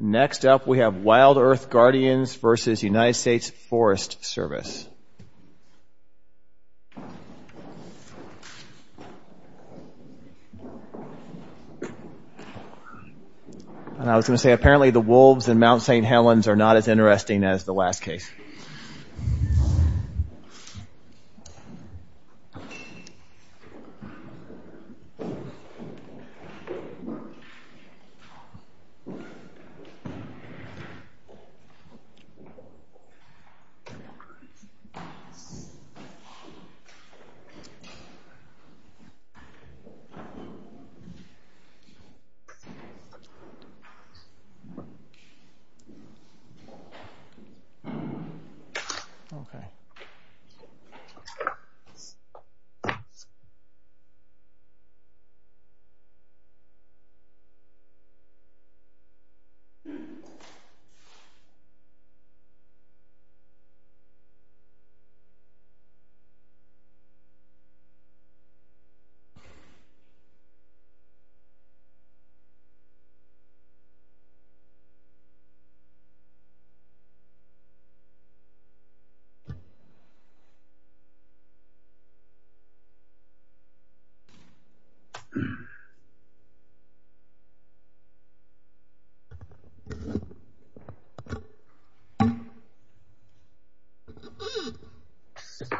Next up we have WildEarth Guardians v. United States Forest Service. And I was going to say, apparently the wolves in Mount St. Helens are not as interesting as the last case. Okay. Okay. Okay. Okay. Okay. Okay. Okay. Okay. Okay. Okay. Okay. Okay. Okay. Okay. Okay. Okay.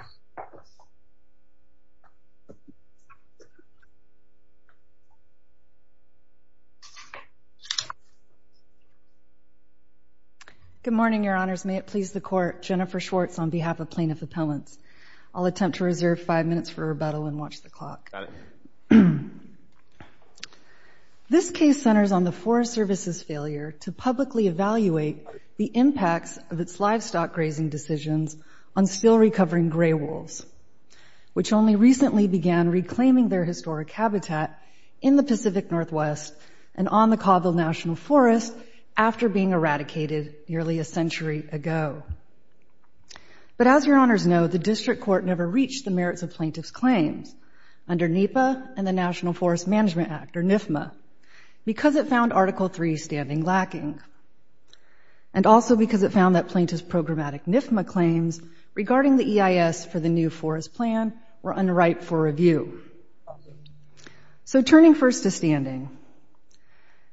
Good morning, your honors. May it please the court, Jennifer Schwartz on behalf of Plaintiff Appellants. I'll attempt to reserve five minutes for rebuttal and watch the clock. Got it. All right. This case centers on the Forest Service's failure to publicly evaluate the impacts of its livestock grazing decisions on still recovering gray wolves, which only recently began reclaiming their historic habitat in the Pacific Northwest and on the Cabo National Forest after being eradicated nearly a century ago. But as your honors know, the district court never reached the merits of plaintiff's claims. Under NEPA and the National Forest Management Act, or NFMA, because it found Article 3 standing lacking and also because it found that plaintiff's programmatic NFMA claims regarding the EIS for the new forest plan were unripe for review. So turning first to standing,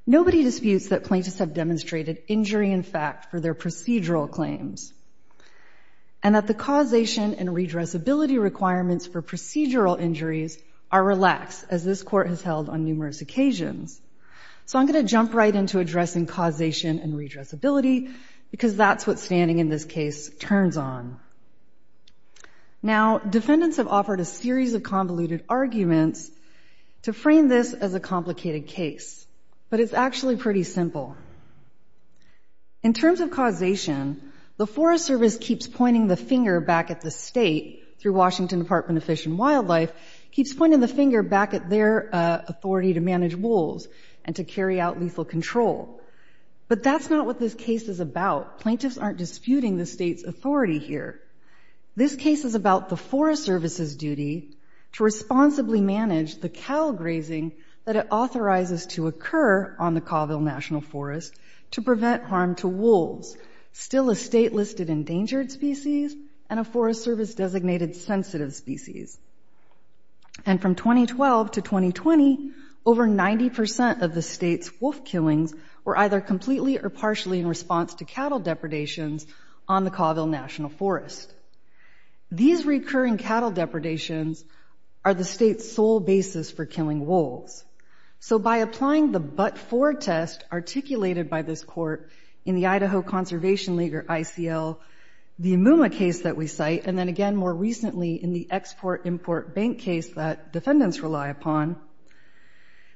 nobody disputes that plaintiffs have demonstrated injury in fact for their procedural claims and that the causation and redressability requirements for procedural injuries are relaxed as this court has held on numerous occasions. So I'm going to jump right into addressing causation and redressability because that's what standing in this case turns on. Now defendants have offered a series of convoluted arguments to frame this as a complicated case, but it's actually pretty simple. In terms of causation, the Forest Service keeps pointing the finger back at the state through Washington Department of Fish and Wildlife, keeps pointing the finger back at their authority to manage wolves and to carry out lethal control. But that's not what this case is about. Plaintiffs aren't disputing the state's authority here. This case is about the Forest Service's duty to responsibly manage the cow grazing that it authorizes to occur on the Colville National Forest to prevent harm to wolves, still a state-listed endangered species and a Forest Service-designated sensitive species. And from 2012 to 2020, over 90% of the state's wolf killings were either completely or partially in response to cattle depredations on the Colville National Forest. These recurring cattle depredations are the state's sole basis for killing wolves. So by applying the but-for test articulated by this court in the Idaho Conservation League or ICL, the Amuma case that we cite, and then again more recently in the Export-Import Bank case that defendants rely upon,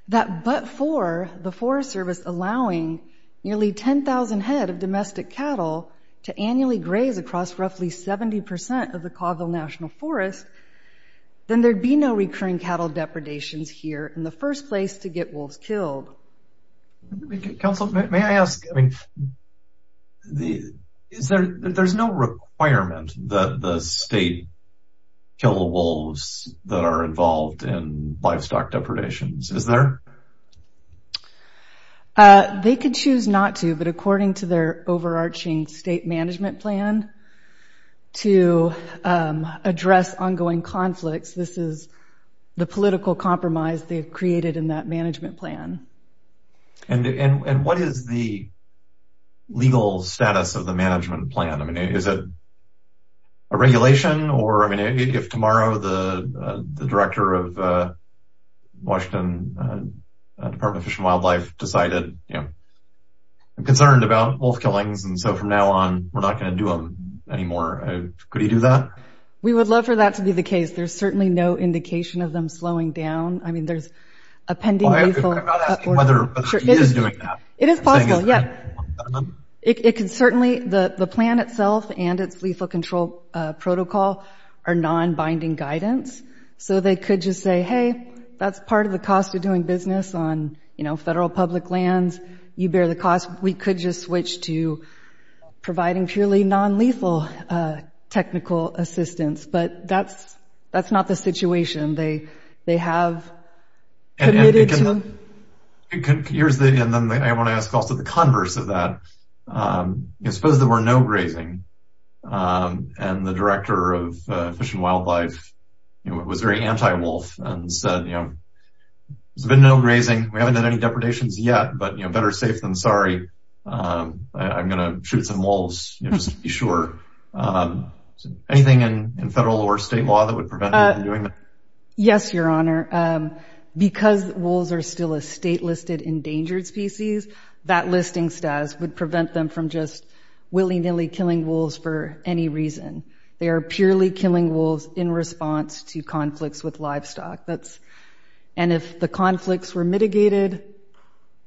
that but-for, the Forest Service allowing nearly 10,000 head of domestic cattle to annually graze across roughly 70% of the Colville National Forest, then there'd be no recurring cattle depredations here in the first place to get wolves killed. Counsel, may I ask, there's no requirement that the state kill the wolves that are involved in livestock depredations, is there? They can choose not to, but according to their overarching state management plan to address ongoing conflicts, this is the political compromise they've created in that management plan. And what is the legal status of the management plan? Is it a regulation, or if tomorrow the director of the Washington Department of Fish and Wildlife decided, you know, I'm concerned about wolf killings, and so from now on we're not going to do them anymore, could he do that? We would love for that to be the case. There's certainly no indication of them slowing down. I mean, there's a pending lethal order. I'm not asking whether he is doing that. It is possible, yeah. It can certainly, the plan itself and its lethal control protocol are non-binding guidance, so they could just say, hey, that's part of the cost of doing business on, you know, federal public lands, you bear the cost, we could just switch to providing purely non-lethal technical assistance, but that's not the situation. They have committed to... And here's the, and then I want to ask also the converse of that. Suppose there were no grazing, and the director of Fish and Wildlife was very anti-wolf and said, you know, there's been no grazing, we haven't had any depredations yet, but, you know, better safe than sorry, I'm going to shoot some wolves, you know, just to be sure. Is there anything in federal or state law that would prevent them from doing that? Yes, Your Honor. Because wolves are still a state-listed endangered species, that listing status would prevent them from just willy-nilly killing wolves for any reason. They are purely killing wolves in response to conflicts with livestock. And if the conflicts were mitigated,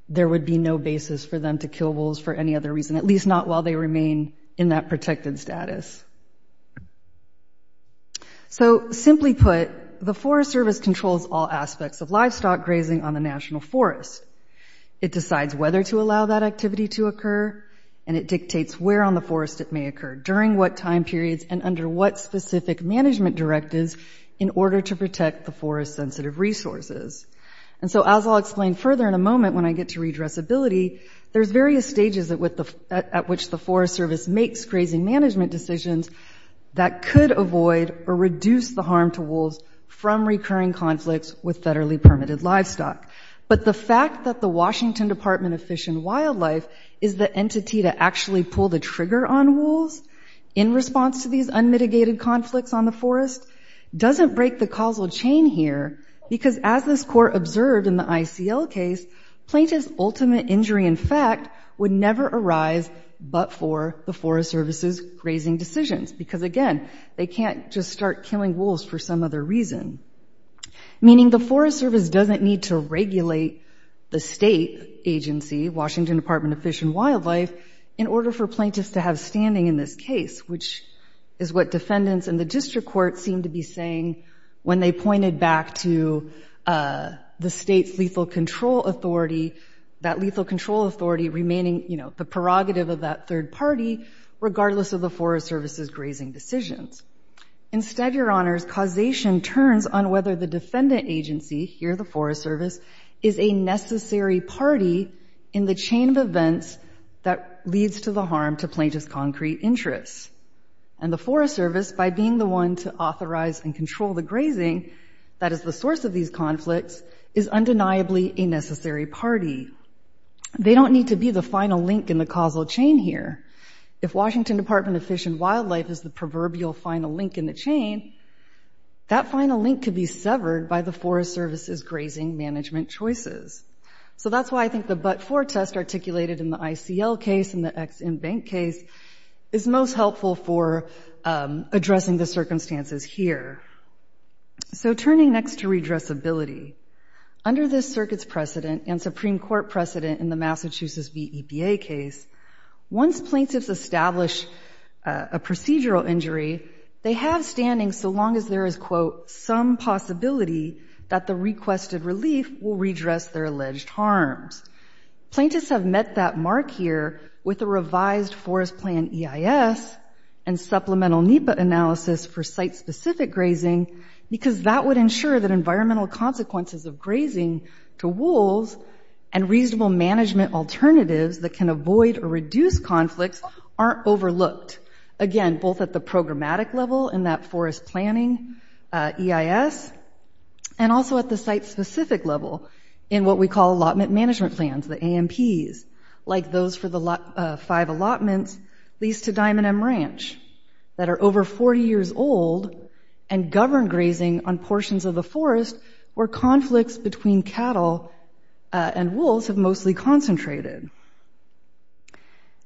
there would be no basis for them to kill wolves for any other reason, at least not while they remain in that protected status. So simply put, the Forest Service controls all aspects of livestock grazing on the National Forest. It decides whether to allow that activity to occur, and it dictates where on the forest it may occur, during what time periods, and under what specific management directives in order to protect the forest-sensitive resources. And so as I'll explain further in a moment when I get to redressability, there's various stages at which the Forest Service makes grazing management decisions that could avoid or reduce the harm to wolves from recurring conflicts with federally permitted livestock. But the fact that the Washington Department of Fish and Wildlife is the entity to actually pull the trigger on wolves in response to these unmitigated conflicts on the forest doesn't break the causal chain here, because as this Court observed in the ICL case, plaintiff's ultimate injury in fact would never arise but for the Forest Service's grazing decisions, because again, they can't just start killing wolves for some other reason. Meaning the Forest Service doesn't need to regulate the state agency, Washington Department of Fish and Wildlife, in order for plaintiffs to have standing in this case, which is what defendants in the district court seem to be saying when they pointed back to the state's lethal control authority, that lethal control authority remaining, you know, the prerogative of that third party, regardless of the Forest Service's grazing decisions. Instead, Your Honors, causation turns on whether the defendant agency, here the Forest Service, is a necessary party in the chain of events that leads to the harm to plaintiff's concrete interests. And the Forest Service, by being the one to authorize and control the grazing that is the source of these conflicts, is undeniably a necessary party. They don't need to be the final link in the causal chain here. If Washington Department of Fish and Wildlife is the proverbial final link in the chain, that final link could be severed by the Forest Service's grazing management choices. So that's why I think the but-for test articulated in the ICL case and the Ex-Im Bank case is most helpful for addressing the circumstances here. So turning next to redressability, under this circuit's precedent and Supreme Court precedent in the Massachusetts v. EPA case, once plaintiffs establish a procedural injury, they have standing so long as there is, quote, some possibility that the requested relief will redress their alleged harms. Plaintiffs have met that mark here with a revised Forest Plan EIS and supplemental NEPA analysis for site-specific grazing, because that would ensure that environmental consequences of grazing to wolves and reasonable management alternatives that can avoid or reduce conflicts aren't overlooked, again, both at the programmatic level in that forest planning EIS and also at the site-specific level in what we call allotment management plans, the AMPs, like those for the five allotments, at least to Diamond M Ranch, that are over 40 years old and govern grazing on portions of the forest where conflicts between cattle and wolves have mostly concentrated.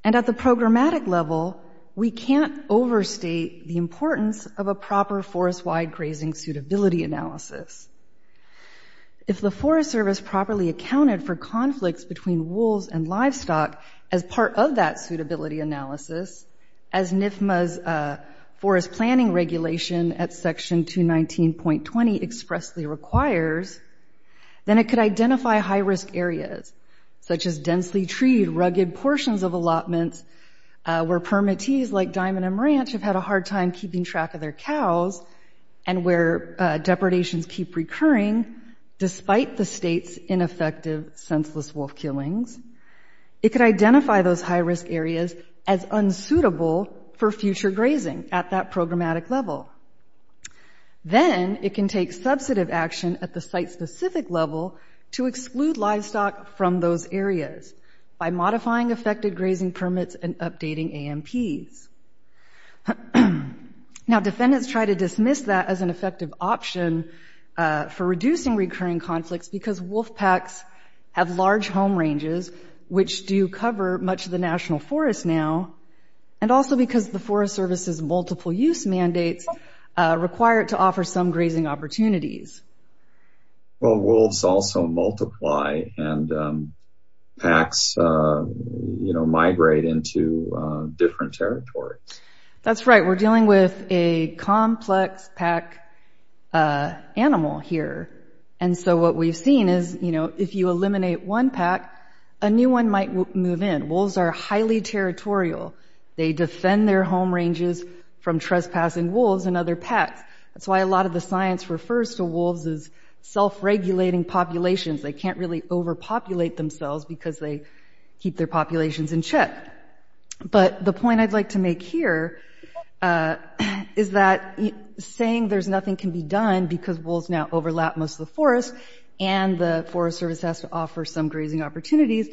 And at the programmatic level, we can't overstate the importance of a proper forest-wide grazing suitability analysis. If the Forest Service properly accounted for conflicts between wolves and livestock as part of that suitability analysis, as NFMA's forest planning regulation at Section 219.20 expressly requires, then it could identify high-risk areas, such as densely-treed, rugged portions of allotments where permittees like Diamond M Ranch have had a hard time keeping track of their cows and where depredations keep recurring despite the state's ineffective senseless wolf killings. It could identify those high-risk areas as unsuitable for future grazing at that programmatic level. Then it can take subsidive action at the site-specific level to exclude livestock from those areas by modifying affected grazing permits and updating AMPs. Now defendants try to dismiss that as an effective option for reducing recurring conflicts because wolf packs have large home ranges, which do cover much of the national forest now, and also because the Forest Service's multiple-use mandates require it to offer some grazing opportunities. Well, wolves also multiply, and packs migrate into different territories. That's right. We're dealing with a complex pack animal here, and so what we've seen is, you know, if you eliminate one pack, a new one might move in. Wolves are highly territorial. They defend their home ranges from trespassing wolves and other packs. That's why a lot of the science refers to wolves as self-regulating populations. They can't really overpopulate themselves because they keep their populations in check. But the point I'd like to make here is that saying there's nothing can be done because wolves now overlap most of the forest and the Forest Service has to offer some grazing opportunities,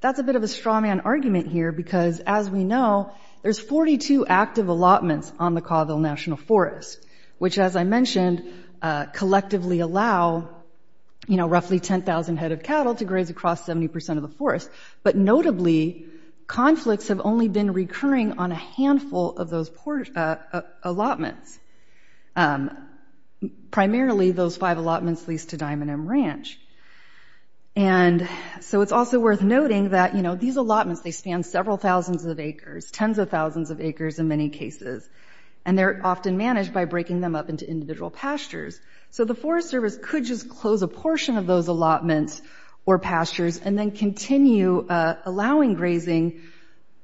that's a bit of a straw-man argument here because, as we know, there's which, as I mentioned, collectively allow, you know, roughly 10,000 head of cattle to graze across 70% of the forest. But notably, conflicts have only been recurring on a handful of those allotments, primarily those five allotments leased to Diamond M Ranch. And so it's also worth noting that, you know, these allotments, they span several thousands of acres, tens of thousands of acres in many cases, and they're often managed by breaking them up into individual pastures. So the Forest Service could just close a portion of those allotments or pastures and then continue allowing grazing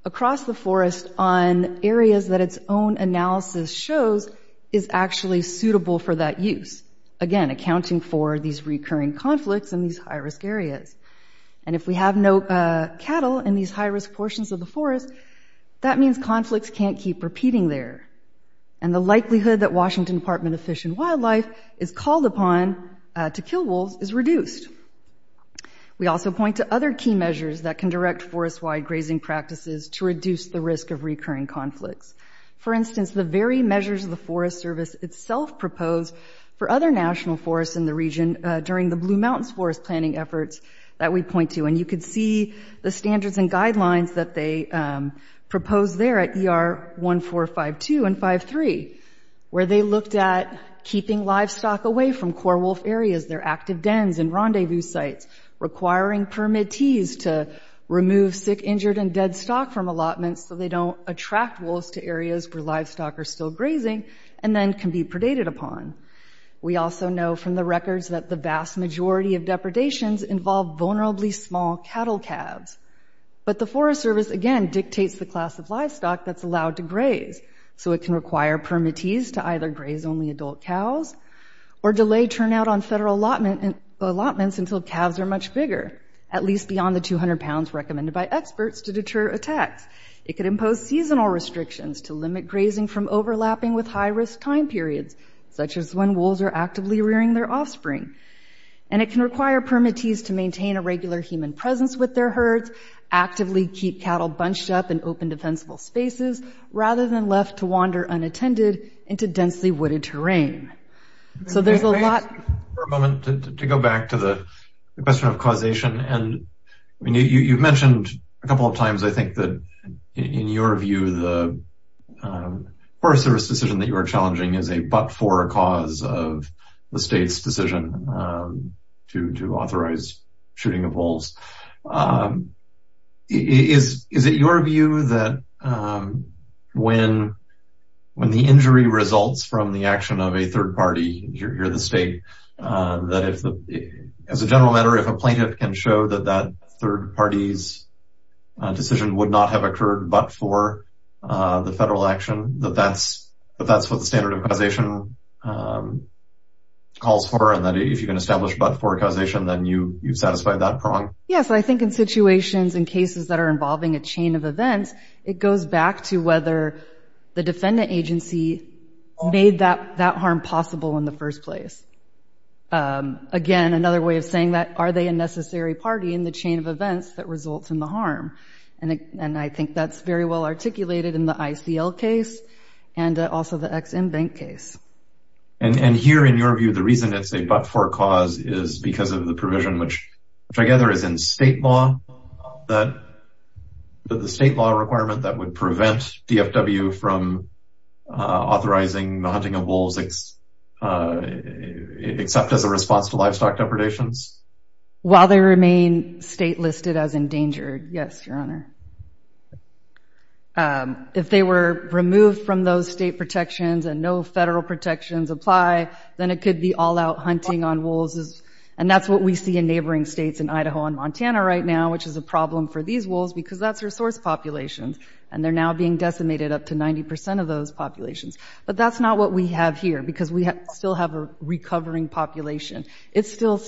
across the forest on areas that its own analysis shows is actually suitable for that use, again, accounting for these recurring conflicts in these high-risk areas. And if we have no cattle in these high-risk portions of the forest, that means conflicts can't keep repeating there. And the likelihood that Washington Department of Fish and Wildlife is called upon to kill wolves is reduced. We also point to other key measures that can direct forest-wide grazing practices to reduce the risk of recurring conflicts. For instance, the very measures the Forest Service itself proposed for other national forests in the region during the Blue Mountains Forest Planning efforts that we point to. And you can see the standards and guidelines that they proposed there at ER 1452 and 53, where they looked at keeping livestock away from core wolf areas, their active dens and rendezvous sites, requiring permittees to remove sick, injured, and dead stock from allotments so they don't attract wolves to areas where livestock are still grazing and then can be predated upon. We also know from the records that the vast majority of depredations involve vulnerably small cattle calves. But the Forest Service, again, dictates the class of livestock that's allowed to graze, so it can require permittees to either graze only adult cows or delay turnout on federal allotments until calves are much bigger, at least beyond the 200 pounds recommended by experts to deter attacks. It could impose seasonal restrictions to limit grazing from overlapping with high-risk time periods, such as when wolves are actively rearing their offspring. And it can require permittees to maintain a regular human presence with their herds, actively keep cattle bunched up in open, defensible spaces, rather than left to wander unattended into densely wooded terrain. So there's a lot... Can I ask you for a moment to go back to the question of causation? And you've mentioned a couple of times, I think, that in your view, the Forest Service decision that you are challenging is a but-for cause of the state's decision to authorize shooting of wolves. Is it your view that when the injury results from the action of a third party, you're the state, that as a general matter, if a plaintiff can show that that third party's decision would not have occurred but-for the federal action, that that's what the standard of causation calls for, and that if you can establish but-for causation, then you've satisfied that prong? Yes, I think in situations and cases that are involving a chain of events, it goes back to whether the defendant agency made that harm possible in the first place. Again, another way of saying that, are they a necessary party in the chain of events that results in the harm? And I think that's very well articulated in the ICL case and also the Ex-Im Bank case. And here, in your view, the reason it's a but-for cause is because of the provision, which I gather is in state law, that the state law requirement that would prevent DFW from authorizing the hunting of wolves, except as a response to livestock depredations? While they remain state-listed as endangered, yes, Your Honor. If they were removed from those state protections and no federal protections apply, then it could be all-out hunting on wolves, and that's what we see in neighboring states in Idaho and Montana right now, which is a problem for these wolves because that's resource populations, and they're now being decimated up to 90 percent of those populations. But that's not what we have here because we still have a recovering population. It's still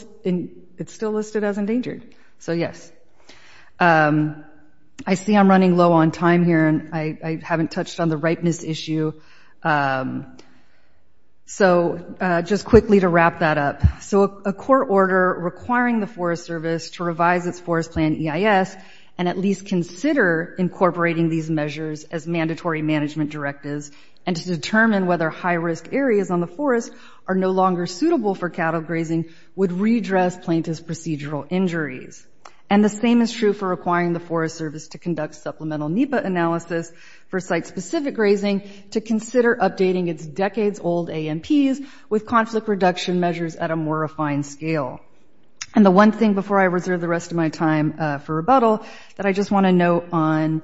listed as endangered, so yes. I see I'm running low on time here, and I haven't touched on the ripeness issue. So just quickly to wrap that up, so a court order requiring the Forest Service to revise its forest plan EIS and at least consider incorporating these measures as mandatory management directives and to determine whether high-risk areas on the forest are no longer suitable for cattle grazing would redress plaintiff's procedural injuries. And the same is true for requiring the Forest Service to conduct supplemental NEPA analysis for site-specific grazing to consider updating its decades-old AMPs with conflict reduction measures at a more refined scale. And the one thing before I reserve the rest of my time for rebuttal that I just want to note on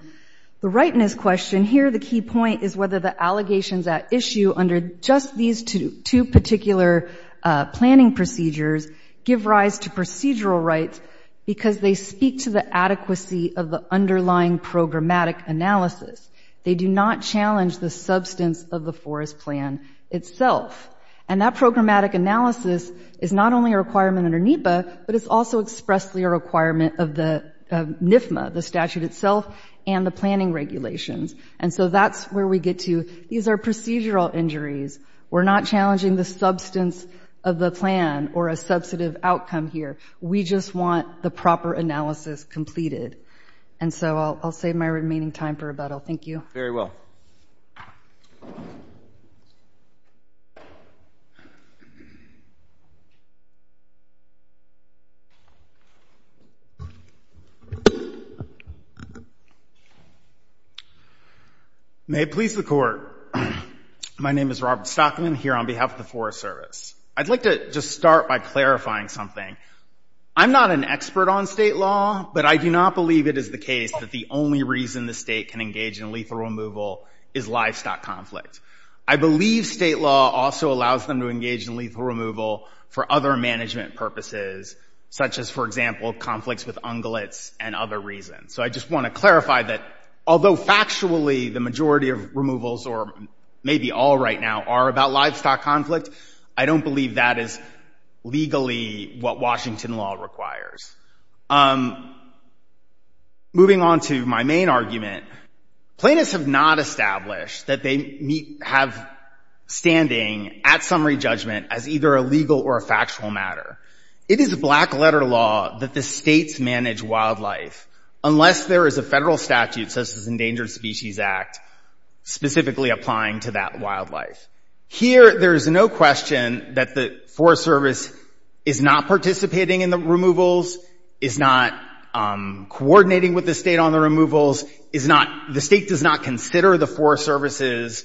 the ripeness question here, the key point is whether the allegations at issue under just these two particular planning procedures give rise to procedural rights because they speak to the adequacy of the underlying programmatic analysis. They do not challenge the substance of the forest plan itself. And that programmatic analysis is not only a requirement under NEPA, but it's also expressly a requirement of the NFMA, the statute itself, and the planning regulations. And so that's where we get to these are procedural injuries. We're not challenging the substance of the plan or a substantive outcome here. We just want the proper analysis completed. And so I'll save my remaining time for rebuttal. Thank you. Very well. May it please the court. My name is Robert Stockman here on behalf of the Forest Service. I'd like to just start by clarifying something. I'm not an expert on state law, but I do not believe it is the case that the only reason the state can engage in lethal removal is livestock conflict. I believe state law also allows them to engage in lethal removal for other management purposes, such as, for example, conflicts with ungulates and other reasons. So I just want to clarify that although factually the majority of removals or maybe all right now are about livestock conflict, I don't believe that is legally what Washington law requires. Moving on to my main argument, plaintiffs have not established that they have standing at summary judgment as either a legal or a factual matter. It is a black letter law that the states manage wildlife unless there is a federal statute, such as Endangered Species Act, specifically applying to that wildlife. Here there is no question that the Forest Service is not participating in the removals, is not coordinating with the state on the removals, is not, the state does not consider the Forest Service's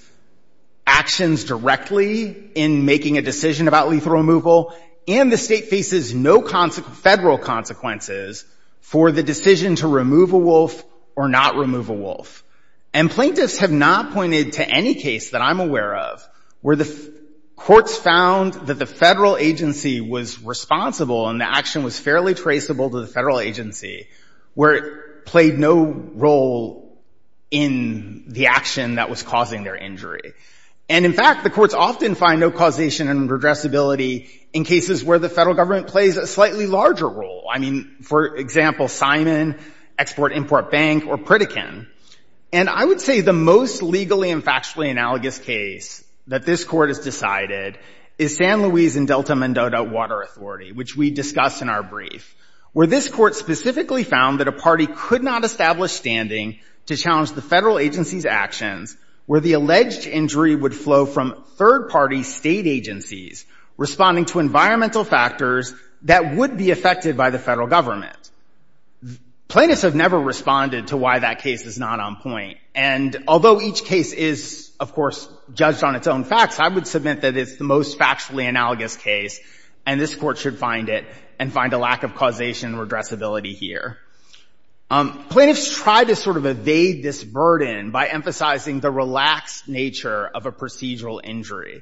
actions directly in making a decision about lethal removal, and the state faces no federal consequences for the decision to remove a wolf or not remove a wolf. And plaintiffs have not pointed to any case that I'm aware of where the courts found that the federal agency was responsible and the action was fairly traceable to the federal agency, where it played no role in the action that was causing their injury. And in fact, the courts often find no causation and redressability in cases where the federal government plays a slightly larger role. I mean, for example, Simon, Export-Import Bank, or Pritikin. And I would say the most legally and factually analogous case that this court has decided is San Luis and Delta Mendoza Water Authority, which we discussed in our brief, where this court specifically found that a party could not establish standing to that the injury would flow from third-party state agencies responding to environmental factors that would be affected by the federal government. Plaintiffs have never responded to why that case is not on point. And although each case is, of course, judged on its own facts, I would submit that it's the most factually analogous case, and this court should find it and find a lack of causation and redressability here. Plaintiffs try to sort of evade this burden by emphasizing the relaxed nature of a procedural injury.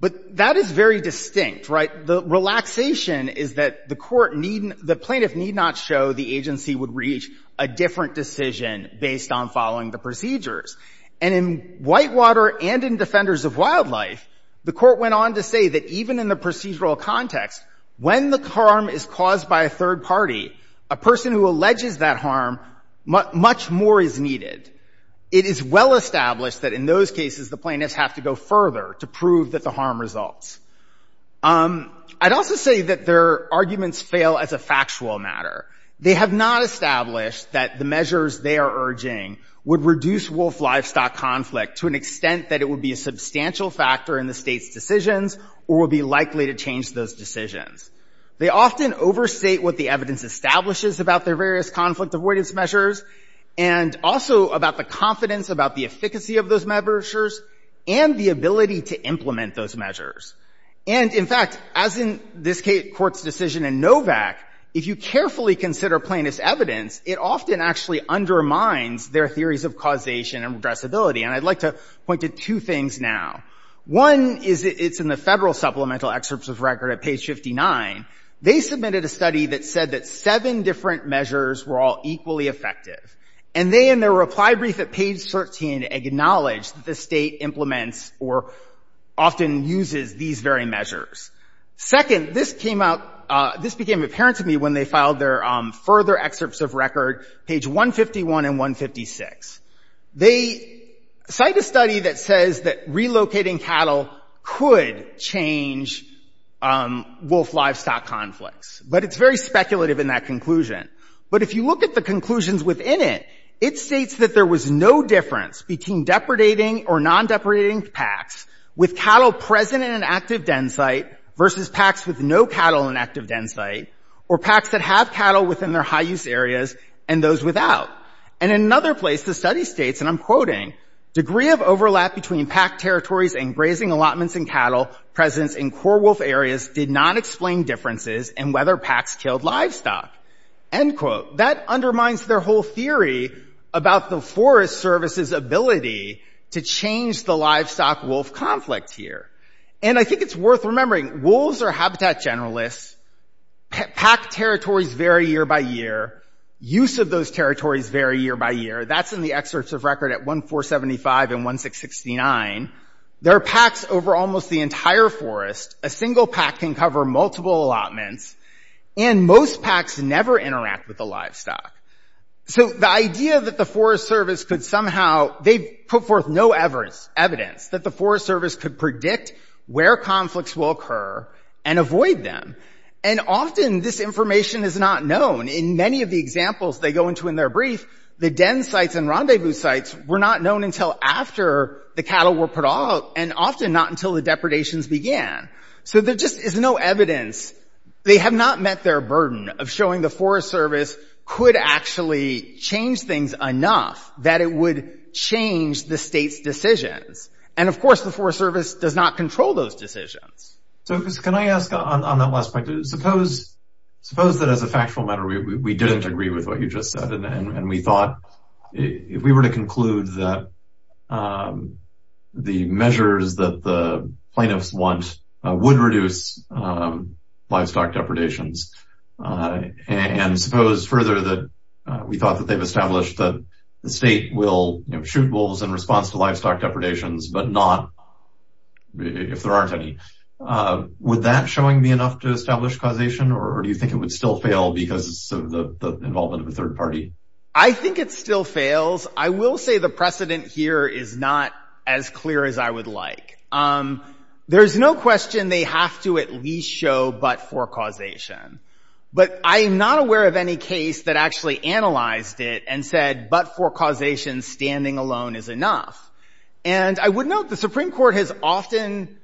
But that is very distinct, right? The relaxation is that the court needn't, the plaintiff need not show the agency would reach a different decision based on following the procedures. And in Whitewater and in Defenders of Wildlife, the court went on to say that even in the procedural context, when the harm is caused by a third party, a person who alleges that harm, much more is needed. It is well established that in those cases, the plaintiffs have to go further to prove that the harm results. I'd also say that their arguments fail as a factual matter. They have not established that the measures they are urging would reduce wolf livestock conflict to an extent that it would be a substantial factor in the state's decisions or would be likely to change those decisions. They often overstate what the evidence establishes about their various conflict avoidance measures and also about the confidence about the efficacy of those measures and the ability to implement those measures. And in fact, as in this court's decision in Novak, if you carefully consider plaintiff's evidence, it often actually undermines their theories of causation and redressability. And I'd like to point to two things now. One is it's in the federal supplemental excerpts of record at page 59. They submitted a study that said that seven different measures were all equally effective. And they, in their reply brief at page 13, acknowledged that the state implements or often uses these very measures. Second, this came out, this became apparent to me when they filed their further excerpts of record, page 151 and 156. They cite a study that says that relocating cattle could change wolf livestock conflicts. But it's very speculative in that conclusion. But if you look at the conclusions within it, it states that there was no difference between depredating or non-depredating packs with cattle present in an active den site versus packs with no cattle in active den site or packs that have cattle within their high use areas and those without. And in another place, the study states, and I'm quoting, degree of overlap between pack territories and grazing allotments and cattle presence in core wolf areas did not explain differences in whether packs killed livestock. End quote. That undermines their whole theory about the Forest Service's ability to change the livestock wolf conflict here. And I think it's worth remembering wolves are habitat generalists. Pack territories vary year by year. Use of those territories vary year by year. That's in the excerpts of record at 1475 and 1669. There are packs over almost the entire forest. A single pack can cover multiple allotments. And most packs never interact with the livestock. So the idea that the Forest Service could somehow, they put forth no evidence that the Forest Service could predict where conflicts will occur and avoid them. And often this information is not known. In many of the examples they go into in their brief, the den sites and rendezvous sites were not known until after the cattle were put out and often not until the depredations began. So there just is no evidence. They have not met their burden of showing the Forest Service could actually change things enough that it would change the state's decisions. And of course, the Forest Service does not control those decisions. So can I ask on that last point, suppose that as a factual matter, we didn't agree with what you just said and we thought if we were to conclude that the measures that the plaintiffs want would reduce livestock depredations and suppose further that we thought that they've established that the state will shoot wolves in response to would that showing me enough to establish causation or do you think it would still fail because of the involvement of a third party? I think it still fails. I will say the precedent here is not as clear as I would like. There's no question they have to at least show but for causation. But I am not aware of any case that actually analyzed it and said but for causation standing alone is enough. And I would note the Supreme Court has often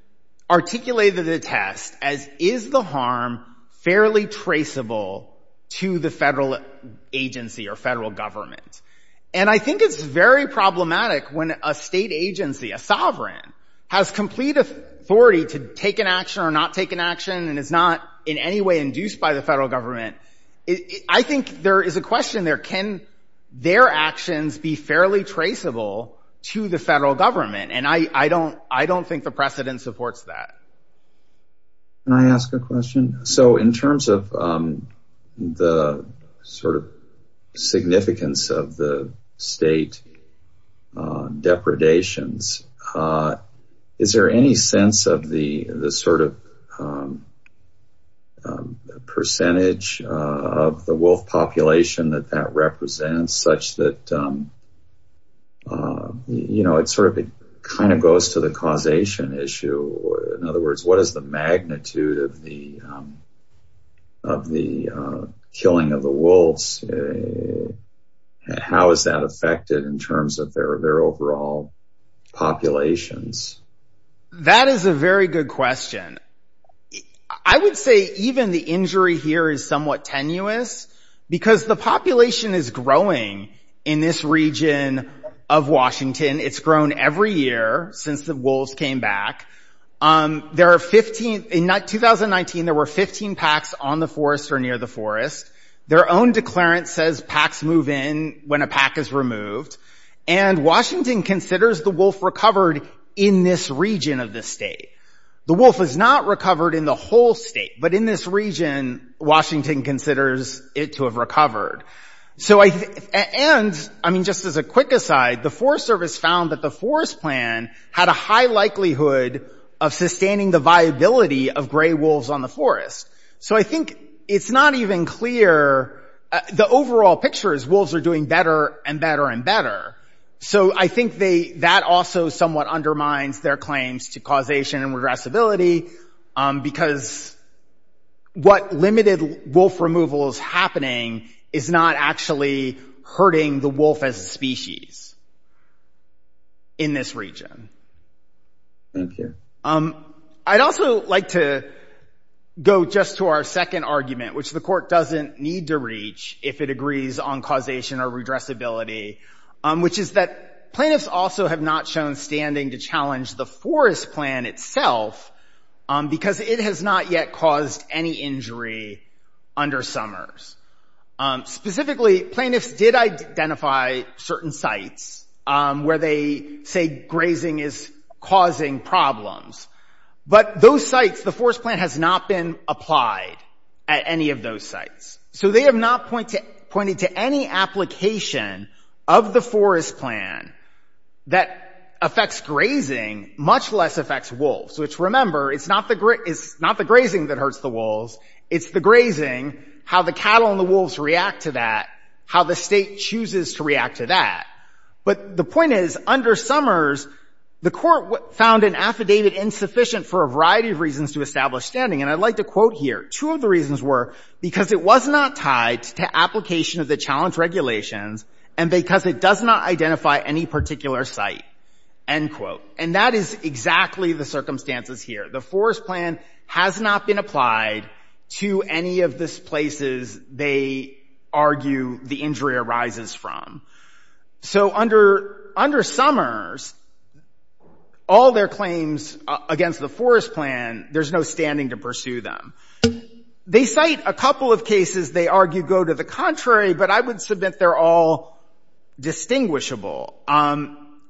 articulated the test as is the harm fairly traceable to the federal agency or federal government. And I think it's very problematic when a state agency, a sovereign, has complete authority to take an action or not take an action and is not in any way induced by the federal government. I think there is a question there. Can their actions be fairly traceable to the federal government? And I don't think the precedent supports that. Can I ask a question? So in terms of the sort of significance of the state depredations, is there any sense of the sort of percentage of the wolf population that that represents such that, you know, it's sort of it kind of goes to the causation issue. In other words, what is the magnitude of the killing of the wolves? How is that affected in terms of their overall populations? That is a very good question. I would say even the injury here is somewhat tenuous because the population is growing in this region of Washington. It's grown every year since the wolves came back. There are 15, in 2019, there were 15 packs on the forest or near the forest. Their own declarant says packs move in when a pack is removed. And Washington considers the wolf recovered in this region of the state. The wolf was not recovered in the whole state, but in this region, Washington considers it to have recovered. So I think and I mean, just as a quick aside, the Forest Service found that the forest plan had a high likelihood of sustaining the viability of gray wolves on the forest. So I think it's not even clear. The overall picture is wolves are doing better and better and better. So I think that also somewhat undermines their claims to causation and regressibility because what limited wolf removal is happening is not actually hurting the wolf as a species. In this region. I'd also like to go just to our second argument, which the court doesn't need to reach if it agrees on causation or regressibility, which is that plaintiffs also have not shown standing to challenge the forest plan itself because it has not yet caused any injury under Summers. Specifically, plaintiffs did identify certain sites where they say grazing is causing problems. But those sites, the forest plan has not been applied at any of those sites. So they have not pointed to any application of the forest plan that affects grazing, much less affects wolves, which remember, it's not the grazing that hurts the wolves. It's the grazing, how the cattle and the wolves react to that, how the state chooses to react to that. But the point is, under Summers, the court found an affidavit insufficient for a variety of reasons to establish standing. And I'd like to quote here, two of the reasons were because it was not tied to application of the challenge regulations and because it does not identify any particular site, end quote. And that is exactly the circumstances here. The forest plan has not been applied to any of this places they argue the injury arises from. So under Summers, all their claims against the forest plan, there's no standing to pursue them. They cite a couple of cases they argue go to the contrary, but I would submit they're all distinguishable.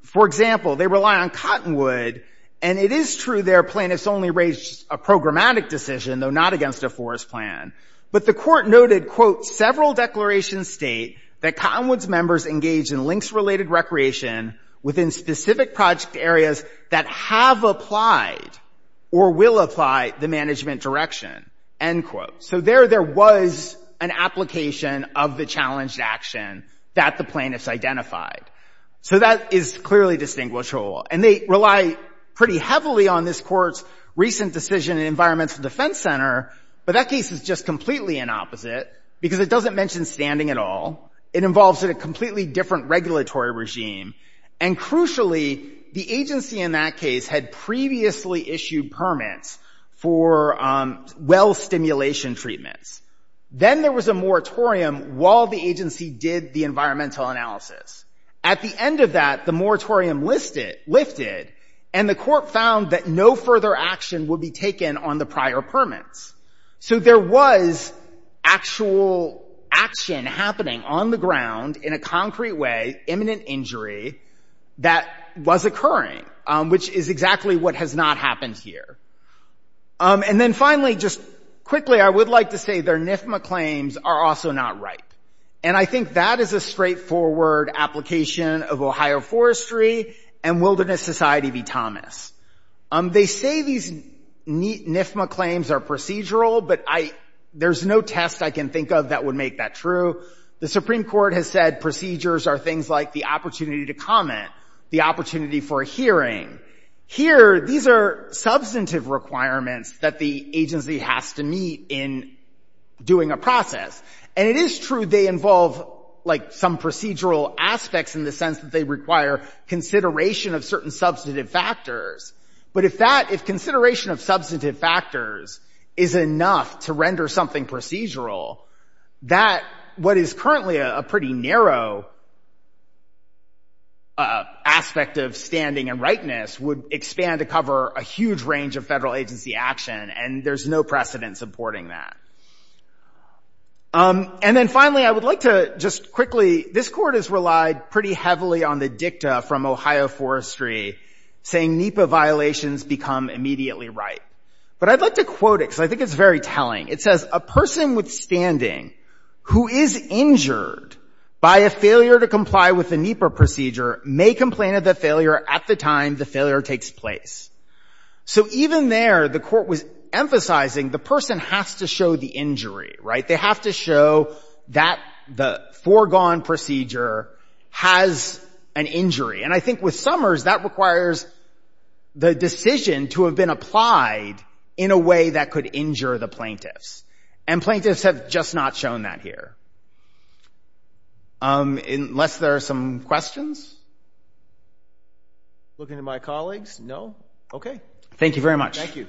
For example, they rely on Cottonwood and it is true their plaintiffs only raised a programmatic decision, though not against a forest plan. But the court noted, quote, several declarations state that Cottonwood's members engage in lynx related recreation within specific project areas that have applied or will apply the management direction, end quote. So there there was an application of the challenged action that the plaintiffs identified. So that is clearly distinguishable. And they rely pretty heavily on this court's recent decision in Environmental Defense Center. But that case is just completely an opposite because it doesn't mention standing at all. It involves a completely different regulatory regime. And crucially, the agency in that case had previously issued permits for well stimulation treatments. Then there was a moratorium while the agency did the environmental analysis. At the end of that, the moratorium lifted and the court found that no further action would be taken on the prior permits. So there was actual action happening on the ground in a concrete way, imminent injury that was occurring, which is exactly what has not happened here. And then finally, just quickly, I would like to say their NIFMA claims are also not right. And I think that is a straightforward application of Ohio Forestry and Wilderness Society v. Thomas. They say these NIFMA claims are procedural, but there's no test I can think of that would make that true. The Supreme Court has said procedures are things like the opportunity to comment, the opportunity for a hearing. Here, these are substantive requirements that the agency has to meet in doing a process. And it is true they involve like some procedural aspects in the sense that they require consideration of certain substantive factors. But if that, if consideration of substantive factors is enough to render something procedural, that what is currently a pretty narrow aspect of standing and rightness would expand to cover a huge range of federal agency action. And there's no precedent supporting that. And then finally, I would like to just quickly, this court has relied pretty heavily on the dicta from Ohio Forestry saying NEPA violations become immediately right. But I'd like to quote it because I think it's very telling. It says, a person with standing who is injured by a failure to comply with the NEPA procedure may complain of the failure at the time the failure takes place. So even there, the court was emphasizing the person has to show the injury, right? They have to show that the foregone procedure has an injury. And I think with Summers, that requires the decision to have been applied in a way that could injure the plaintiffs and plaintiffs have just not shown that here. Unless there are some questions? Looking to my colleagues? No. Okay. Thank you very much. Thank you.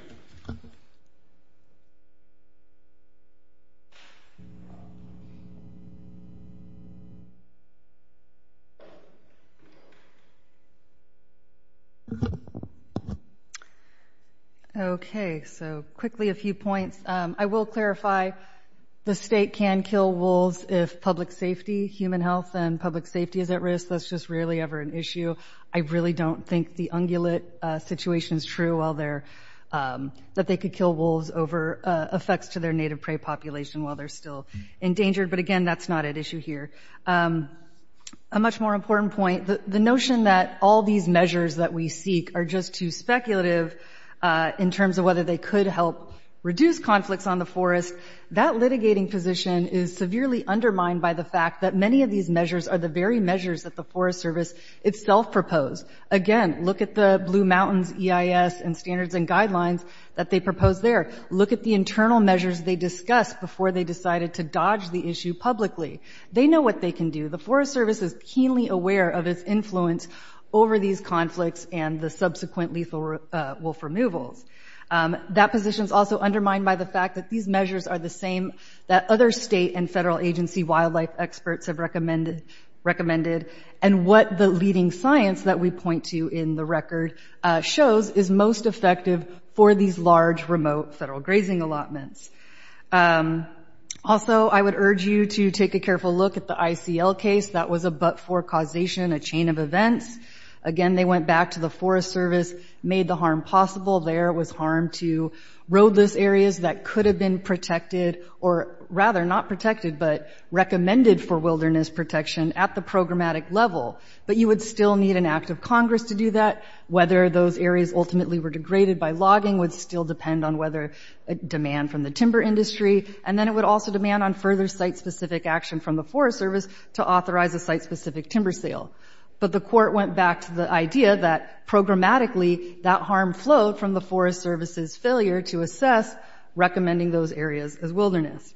Okay. So quickly, a few points. I will clarify the state can kill wolves if public safety, human health and public safety is at risk. That's just really ever an issue. I really don't think the ungulate situation is true while they're, that they could kill wolves over effects to their native prey population while they're still endangered. But again, that's not an issue here. A much more important point, the notion that all these measures that we seek are just too speculative in terms of whether they could help reduce conflicts on the forest, that litigating position is severely undermined by the fact that many of these measures are the very measures that the Forest Service itself proposed. Again, look at the Blue Mountains EIS and standards and guidelines that they propose there. Look at the internal measures they discussed before they decided to dodge the issue publicly. They know what they can do. The Forest Service is keenly aware of its influence over these conflicts and the subsequent lethal wolf removals. That position is also undermined by the fact that these measures are the same that other state and federal agency wildlife experts have recommended and what the leading science that we point to in the record shows is most effective for these large remote federal grazing allotments. Also, I would urge you to take a careful look at the ICL case. That was a but-for causation, a chain of events. Again, they went back to the Forest Service, made the harm possible. There was harm to roadless areas that could have been protected or rather not protected but recommended for wilderness protection at the programmatic level. But you would still need an act of Congress to do that. Whether those areas ultimately were degraded by logging would still depend on whether demand from the timber industry. And then it would also demand on further site-specific action from the Forest Service to authorize a site-specific timber sale. But the court went back to the idea that programmatically that harm flowed from the Forest Service's failure to assess recommending those areas as wilderness.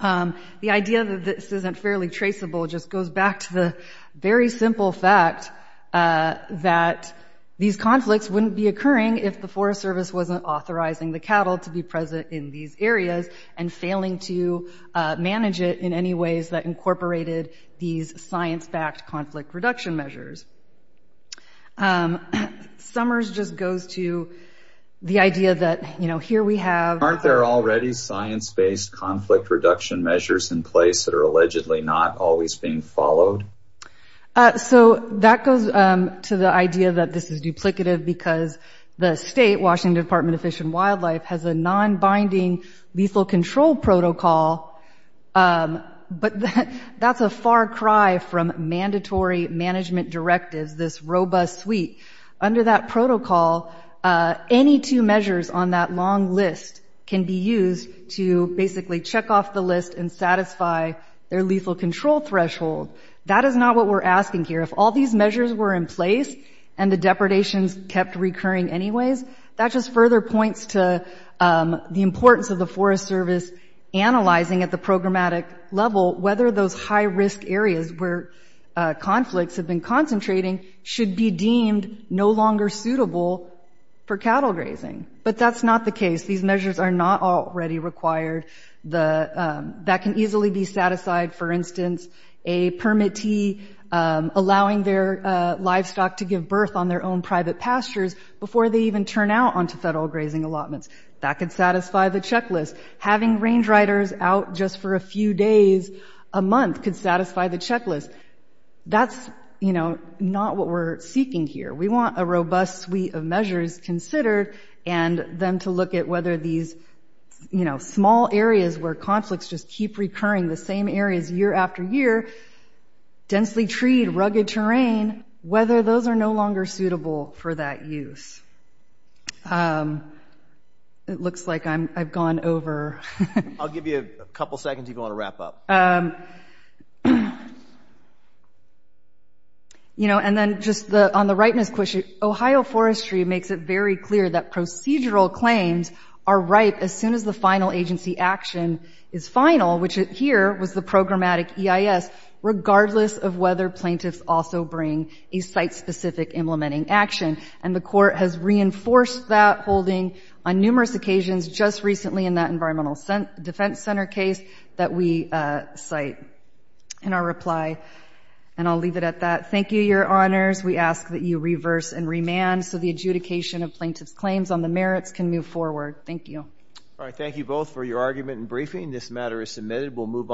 The idea that this isn't fairly traceable just goes back to the very simple fact that these conflicts wouldn't be occurring if the Forest Service wasn't authorizing the cattle to be present in these areas and failing to manage it in any ways that incorporated these science-backed conflict reduction measures. Summers just goes to the idea that, you know, here we have... ...conflict reduction measures in place that are allegedly not always being followed. So that goes to the idea that this is duplicative because the state, Washington Department of Fish and Wildlife, has a non-binding lethal control protocol. But that's a far cry from mandatory management directives, this robust suite. Under that protocol, any two measures on that long list can be used to basically check off the list and satisfy their lethal control threshold. That is not what we're asking here. If all these measures were in place and the depredations kept recurring anyways, that just further points to the importance of the Forest Service analyzing at the programmatic level whether those high-risk areas where conflicts have been concentrating should be no longer suitable for cattle grazing. But that's not the case. These measures are not already required. That can easily be satisfied, for instance, a permittee allowing their livestock to give birth on their own private pastures before they even turn out onto federal grazing allotments. That could satisfy the checklist. Having range riders out just for a few days a month could satisfy the checklist. That's, you know, not what we're seeking here. We want a robust suite of measures considered and then to look at whether these, you know, small areas where conflicts just keep recurring, the same areas year after year, densely treed, rugged terrain, whether those are no longer suitable for that use. It looks like I've gone over. I'll give you a couple seconds if you want to wrap up. You know, and then just on the ripeness question, Ohio Forestry makes it very clear that procedural claims are ripe as soon as the final agency action is final, which here was the programmatic EIS, regardless of whether plaintiffs also bring a site-specific implementing action. And the court has reinforced that holding on numerous occasions, just recently in that Environmental Defense Center case that we cite in our reply. And I'll leave it at that. Thank you, Your Honors. We ask that you reverse and remand so the adjudication of plaintiff's claims on the merits can move forward. Thank you. All right. Thank you both for your argument and briefing. This matter is submitted. We'll move on.